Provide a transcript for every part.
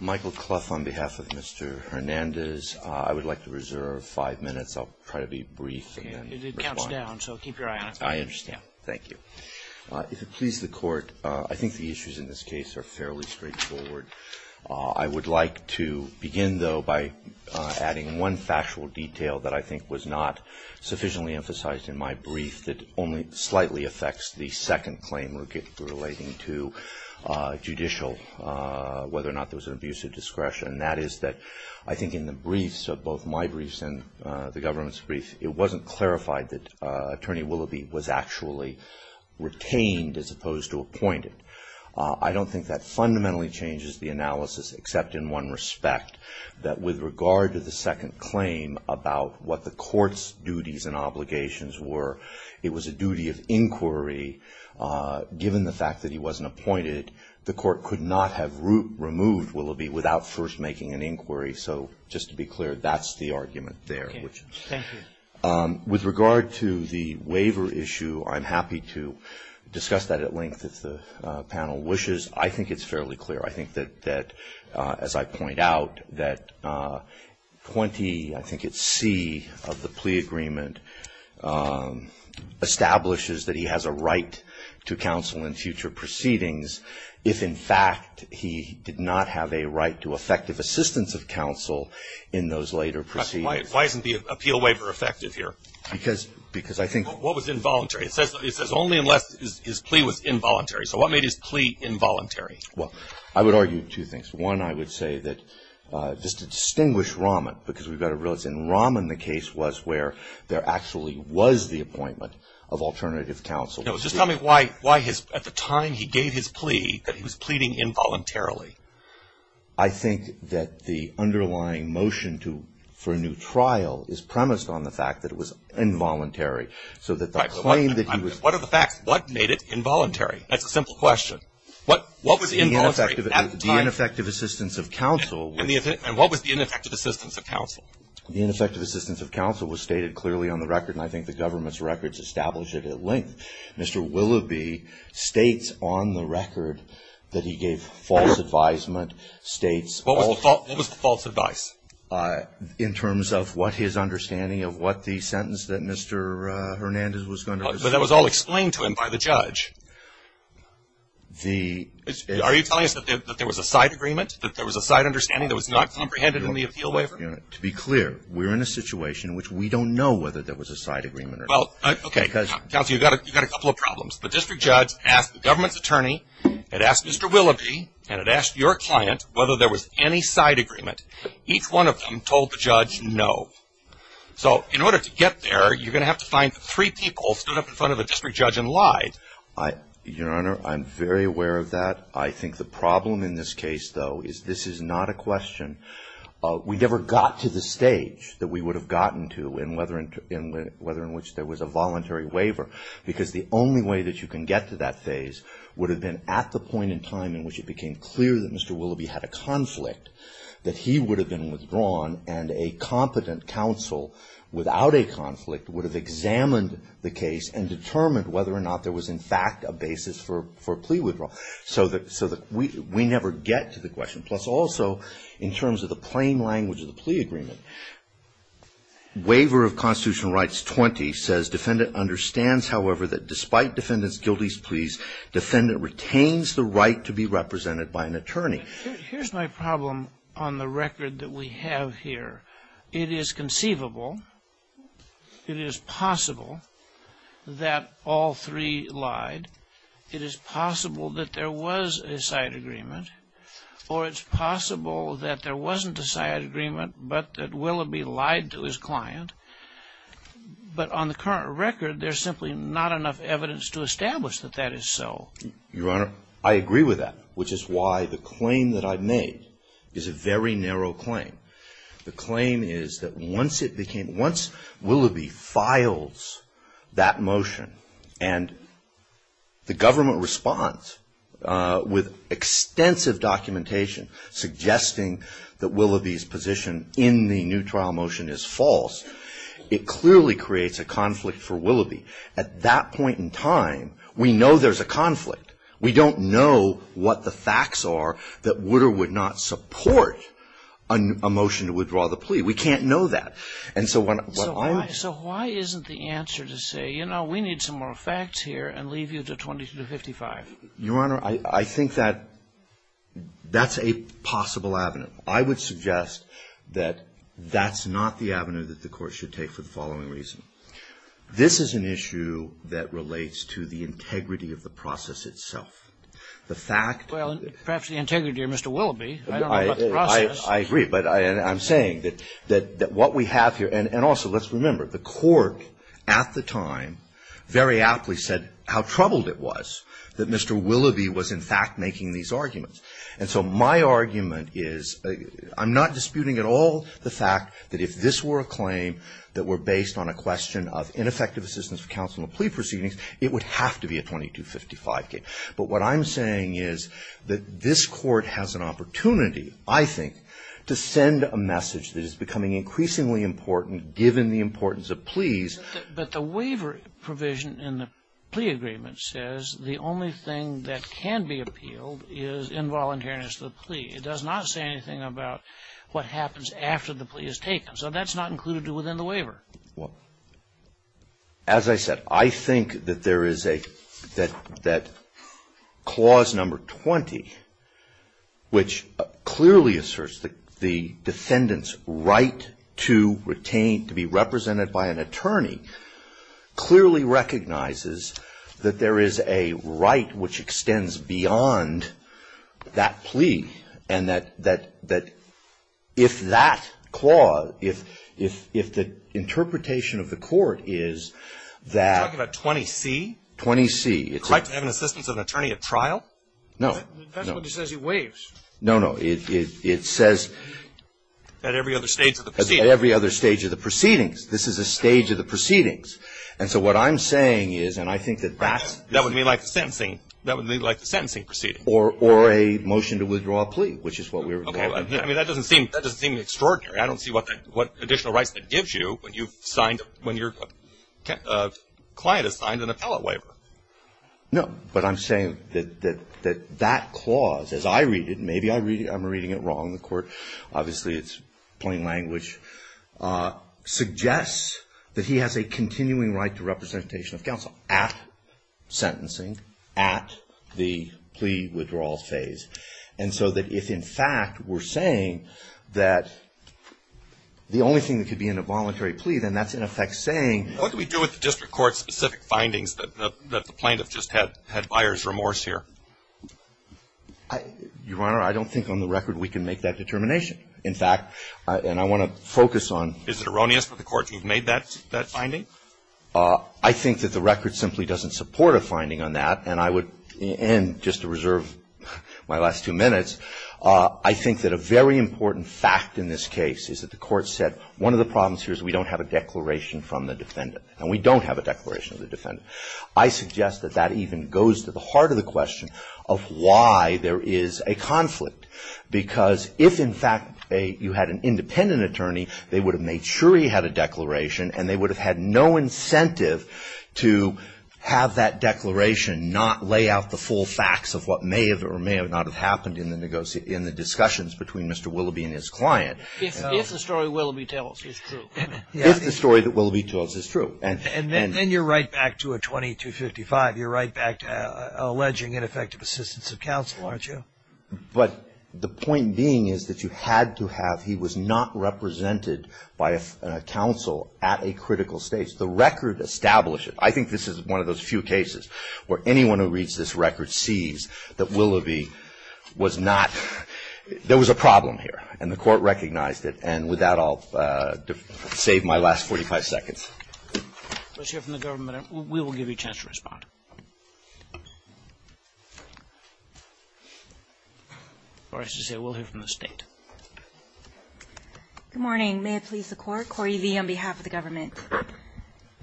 Michael Clough on behalf of Mr. Hernandez. I would like to reserve five minutes. I'll try to be brief and respond. It counts down, so keep your eye on it. I understand. Thank you. If it pleases the Court, I think the issues in this case are fairly straightforward. I would like to begin, though, by adding one factual detail that I think was not sufficiently emphasized in my brief that only slightly affects the second claim relating to judicial whether or not there was an abuse of discretion, and that is that I think in the briefs, both my briefs and the government's briefs, it wasn't clarified that Attorney Willoughby was actually retained as opposed to appointed. I don't think that fundamentally changes the analysis except in one respect, that with duties and obligations were. It was a duty of inquiry. Given the fact that he wasn't appointed, the Court could not have removed Willoughby without first making an inquiry. So just to be clear, that's the argument there. Okay. Thank you. With regard to the waiver issue, I'm happy to discuss that at length if the panel wishes. I think it's fairly clear. I think that, as I point out, that 20, I think it's C, of the plea agreement establishes that he has a right to counsel in future proceedings if, in fact, he did not have a right to effective assistance of counsel in those later proceedings. Why isn't the appeal waiver effective here? Because I think What was involuntary? It says only unless his plea was involuntary. So what made his plea involuntary? Well, I would argue two things. One, I would say that just to distinguish Rahman, because we've got to realize in Rahman, the case was where there actually was the appointment of alternative counsel. No. Just tell me why his, at the time he gave his plea, that he was pleading involuntarily. I think that the underlying motion to, for a new trial is premised on the fact that it was involuntary. So that the claim that he was Right. But what are the facts? What made it involuntary? That's a simple question. What was involuntary at the time? The ineffective assistance of counsel was And what was the ineffective assistance of counsel? The ineffective assistance of counsel was stated clearly on the record, and I think the government's records establish it at length. Mr. Willoughby states on the record that he gave false advisement, states What was the false advice? In terms of what his understanding of what the sentence that Mr. Hernandez was going But that was all explained to him by the judge. The Are you telling us that there was a side agreement, that there was a side understanding that was not comprehended in the appeal waiver? To be clear, we're in a situation in which we don't know whether there was a side agreement Well, okay, because Counsel, you've got a couple of problems. The district judge asked the government's attorney, it asked Mr. Willoughby, and it asked your client whether there was any side agreement. Each one of them told the judge no. So in order to get there, you're going to have to find three people stood up in front of a district judge and lied. Your Honor, I'm very aware of that. I think the problem in this case, though, is this is not a question. We never got to the stage that we would have gotten to in whether in which there was a voluntary waiver, because the only way that you can get to that phase would have been at the point in time in which it became clear that Mr. Willoughby had a conflict, that he would have been withdrawn and a competent counsel without a conflict would have examined the case and determined whether or not there was in fact a basis for Also, in terms of the plain language of the plea agreement, Waiver of Constitutional Rights 20 says defendant understands, however, that despite defendant's guilty pleas, defendant retains the right to be represented by an attorney. Here's my problem on the record that we have here. It is conceivable, it is possible that all three lied. It is possible that there was a side agreement, or it's possible that there wasn't a side agreement, but that Willoughby lied to his client. But on the current record, there's simply not enough evidence to establish that that is so. Your Honor, I agree with that, which is why the claim that I made is a very narrow claim. The claim is that once it became, once Willoughby files that motion and the government responds with extensive documentation suggesting that Willoughby's position in the new trial motion is false, it clearly creates a conflict for Willoughby. At that point in time, we know there's a conflict. We don't know what the facts are that would or would not support a motion to withdraw the plea. We can't know that. And so when I'm So why isn't the answer to say, you know, we need some more facts here and leave you to 2255? Your Honor, I think that that's a possible avenue. I would suggest that that's not the avenue that the Court should take for the following reason. This is an issue that relates to the integrity of the process itself. The fact that the Court at the time very aptly said how troubled it was that Mr. Willoughby was, in fact, making these arguments. And so my argument is, I'm not disputing at all the fact that if this were a claim that were based on a question of ineffective assistance for counsel in the plea proceedings, would have to be a 2255 case. But what I'm saying is that this Court has an opportunity, I think, to send a message that is becoming increasingly important given the importance of pleas. But the waiver provision in the plea agreement says the only thing that can be appealed is involuntariness to the plea. It does not say anything about what happens after the plea is taken. So that's not included within the waiver. Well, as I said, I think that there is a – that Clause No. 20, which clearly asserts the defendant's right to retain, to be represented by an attorney, clearly recognizes that there is a right which extends beyond that plea, and that if that clause, if the interpretation of the Court is that – Are you talking about 20C? 20C. The right to have an assistance of an attorney at trial? No. That's what it says. It waives. No, no. It says – At every other stage of the proceedings. At every other stage of the proceedings. This is a stage of the proceedings. And so what I'm saying is, and I think that that's – That would be like the sentencing. That would be like the sentencing proceeding. Or a motion to withdraw a plea, which is what we were talking about. Okay. I mean, that doesn't seem – that doesn't seem extraordinary. I don't see what additional rights that gives you when you've signed – when your client has signed an appellate waiver. No. But I'm saying that that clause, as I read it, maybe I'm reading it wrong, the Court – obviously it's plain language – suggests that he has a continuing right to representation of counsel at sentencing, at the plea withdrawal phase. And so that if, in fact, we're saying that the only thing that could be in a voluntary plea, then that's, in effect, saying – What do we do with the district court's specific findings that the plaintiff just had buyer's remorse here? Your Honor, I don't think on the record we can make that determination. In fact, and I want to focus on – Is it erroneous for the court to have made that finding? I think that the record simply doesn't support a finding on that, and just to reserve my last two minutes, I think that a very important fact in this case is that the court said, one of the problems here is we don't have a declaration from the defendant. And we don't have a declaration of the defendant. I suggest that that even goes to the heart of the question of why there is a conflict. Because if, in fact, you had an independent attorney, they would have made sure he had a declaration, and they would have had no incentive to have that declaration not lay out the full facts of what may or may not have happened in the discussions between Mr. Willoughby and his client. If the story Willoughby tells is true. If the story that Willoughby tells is true. And then you're right back to a 2255. You're right back to alleging ineffective assistance of counsel, aren't you? But the point being is that you had to have – represented by a counsel at a critical stage. The record establishes – I think this is one of those few cases where anyone who reads this record sees that Willoughby was not – there was a problem here. And the court recognized it. And with that, I'll save my last 45 seconds. Let's hear from the government. We will give you a chance to respond. Or I should say, we'll hear from the state. Good morning. May it please the court. Cori Lee on behalf of the government.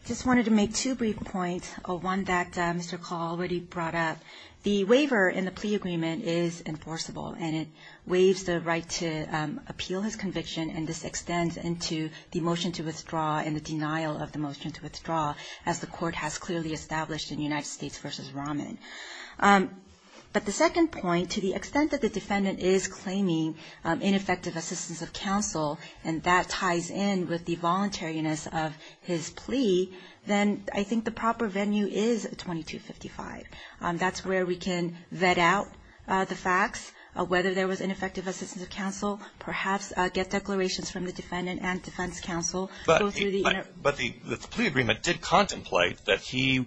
Just wanted to make two brief points. One that Mr. Call already brought up. The waiver in the plea agreement is enforceable and it waives the right to appeal his conviction and this extends into the motion to withdraw and the denial of the motion to withdraw as the court has clearly established in United States v. Rahman. But the second point, to the extent that the defendant is claiming ineffective assistance of counsel and that ties in with the voluntariness of his plea, then I think the proper venue is 2255. That's where we can vet out the facts of whether there was ineffective assistance of counsel, perhaps get declarations from the defendant and defense counsel. But the plea agreement did contemplate that he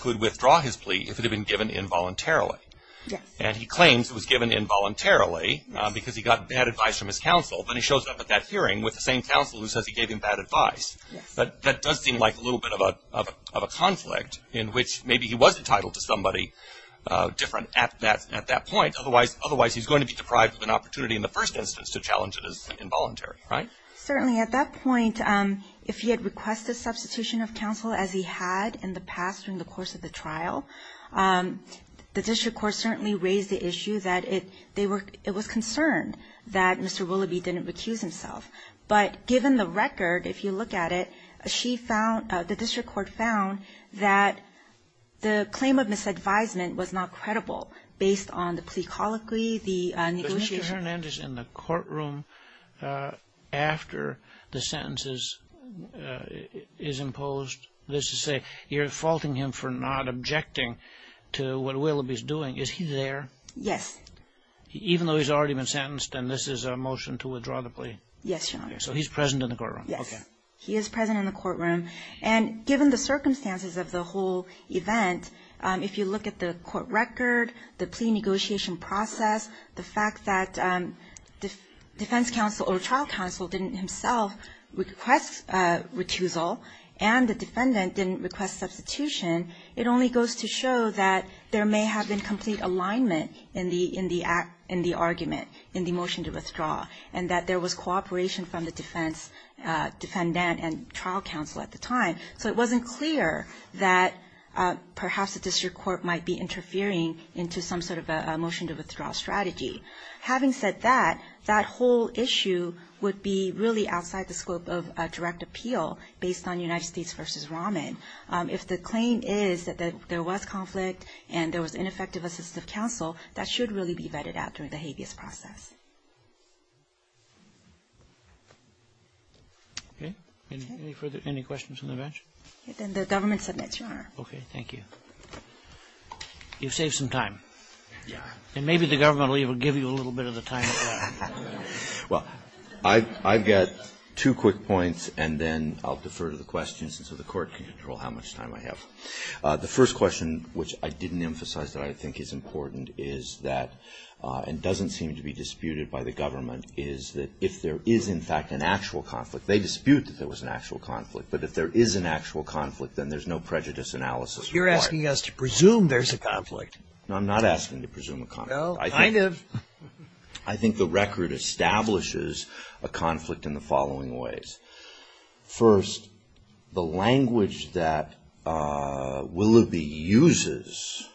could withdraw his plea if it had been given involuntarily. Yes. And he claims it was given involuntarily because he got bad advice from his counsel but he shows up at that hearing with the same counsel who says he gave him bad advice. That does seem like a little bit of a conflict in which maybe he was entitled to somebody different at that point. Otherwise, he's going to be deprived of an opportunity in the first instance to challenge it as involuntary, right? Certainly. At that point, if he had requested substitution of counsel as he had in the past during the course of the trial, the district court certainly raised the issue that it was concerned that Mr. Willoughby didn't recuse himself. But given the record, if you look at it, the district court found that the claim of misadvisement was not credible based on the plea colloquy, the negotiation. Was Mr. Hernandez in the courtroom after the sentences is imposed? You're faulting him for not objecting to what Willoughby's doing. Is he there? Yes. Even though he's already been sentenced and this is a motion to withdraw the plea? Yes, Your Honor. So he's present in the courtroom? Yes, he is present in the courtroom. And given the circumstances of the whole event, if you look at the court record, the plea negotiation process, the fact that defense counsel or trial counsel didn't himself request recusal and the defendant didn't request substitution, it only goes to show that there may have been complete alignment in the argument in the motion to withdraw and that there was cooperation from the defense defendant and trial counsel at the time. So it wasn't clear that perhaps the district court might be interfering into some sort of a motion to withdraw strategy. Having said that, that whole issue would be really outside the scope of a direct appeal based on United States v. Rahman. If the claim is that there was conflict and there was ineffective assistive counsel, that should really be vetted out during the habeas process. Okay. Any questions from the bench? Then the government submits, Your Honor. Okay, thank you. You've saved some time. Yeah. And maybe the government will even give you a little bit of the time. Well, I've got two quick points and then I'll defer to the questions so the court can control how much time I have. The first question, which I didn't emphasize that I think is important is that and doesn't seem to be disputed by the government is that if there is in fact an actual conflict, they dispute that there was an actual conflict, but if there is an actual conflict, then there's no prejudice analysis required. You're asking us to presume there's a conflict. No, I'm not asking to presume a conflict. No, kind of. I think the record establishes a conflict in the following ways. First, the language that Willoughby uses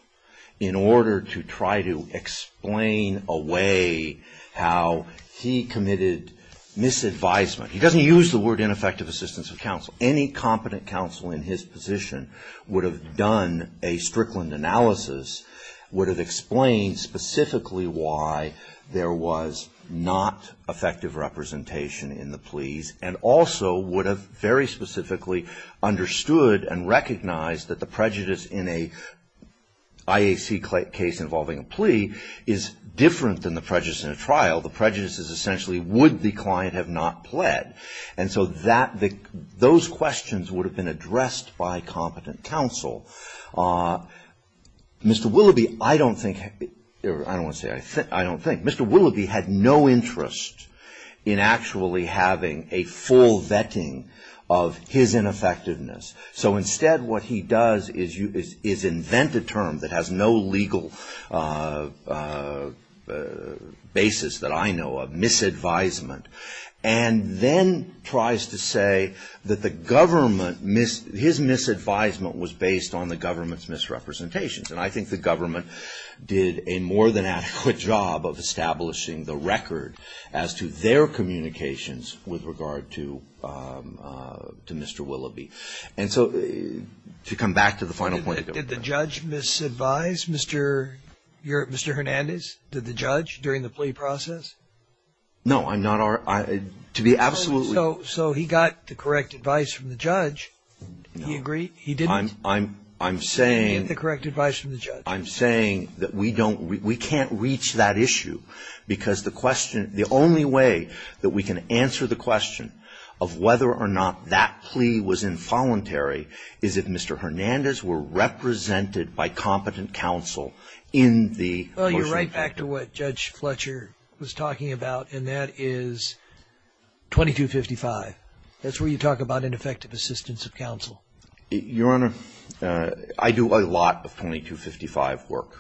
in order to try to explain away how he committed misadvisement. He doesn't use the word ineffective assistance of counsel. Any competent counsel in his position would have done a Strickland analysis, would have explained specifically why there was not effective representation in the pleas and also would have very specifically understood and recognized that the prejudice in a IAC case involving a plea is different than the prejudice in a trial. The prejudice is essentially would the client have not pled? And so those questions would have been addressed by competent counsel. Mr. Willoughby, I don't think, I don't want to say I think, I don't think, Mr. Willoughby had no interest in actually having a full vetting of his ineffectiveness. So instead what he does is invent a term that has no legal basis that I know of, misadvisement, and then tries to say that the government, his misadvisement was based on the government's misrepresentations. And I think the government did a more than adequate job of establishing the record as to their communications with regard to Mr. Willoughby. And so to come back to the final point. Did the judge misadvise, Mr. Hernandez? Did the judge during the plea process? No, I'm not, to be absolutely. So he got the correct advice from the judge. Do you agree? He didn't get the correct advice from the judge. I'm saying that we don't, we can't reach that issue because the question, the only way that we can answer the question of whether or not that plea was involuntary is if Mr. Hernandez were represented by competent counsel in the motion. Well, you're right back to what Judge Fletcher was talking about, and that is 2255. That's where you talk about ineffective assistance of counsel. Your Honor, I do a lot of 2255 work.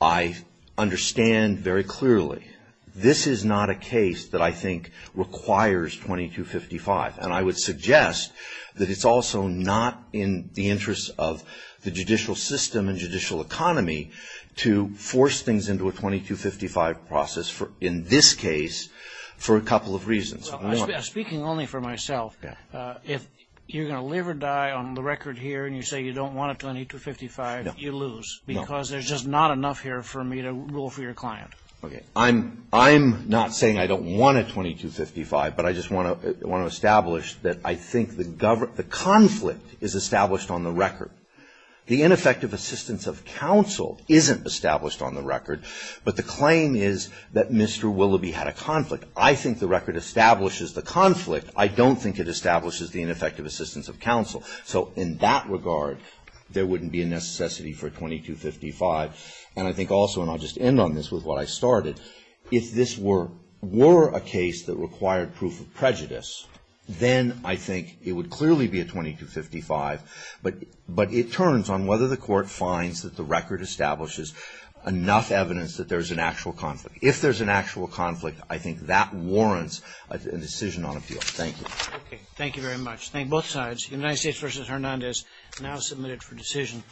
I understand very clearly this is not a case that I think requires 2255. And I would suggest that it's also not in the interest of the judicial system and judicial economy to force things into a 2255 process in this case for a couple of reasons. Speaking only for myself, if you're going to live or die on the record here and you say you don't want a 2255, you lose because there's just not enough here for me to rule for your client. I'm not saying I don't want a 2255, but I just want to establish that I think the conflict is established on the record. The ineffective assistance of counsel isn't established on the record, but the claim is that Mr. Willoughby had a conflict. I think the record establishes the conflict. I don't think it establishes the ineffective assistance of counsel. So in that regard, there wouldn't be a necessity for 2255. And I think also, and I'll just end on this with what I started, if this were a case that required proof of prejudice, then I think it would clearly be a 2255, but it turns on whether the court finds that the record establishes enough evidence that there's an actual conflict. If there's an actual conflict, I think that warrants a decision on appeal. Thank you. Thank you very much. Thank you both sides. United States v. Hernandez, now submitted for decision.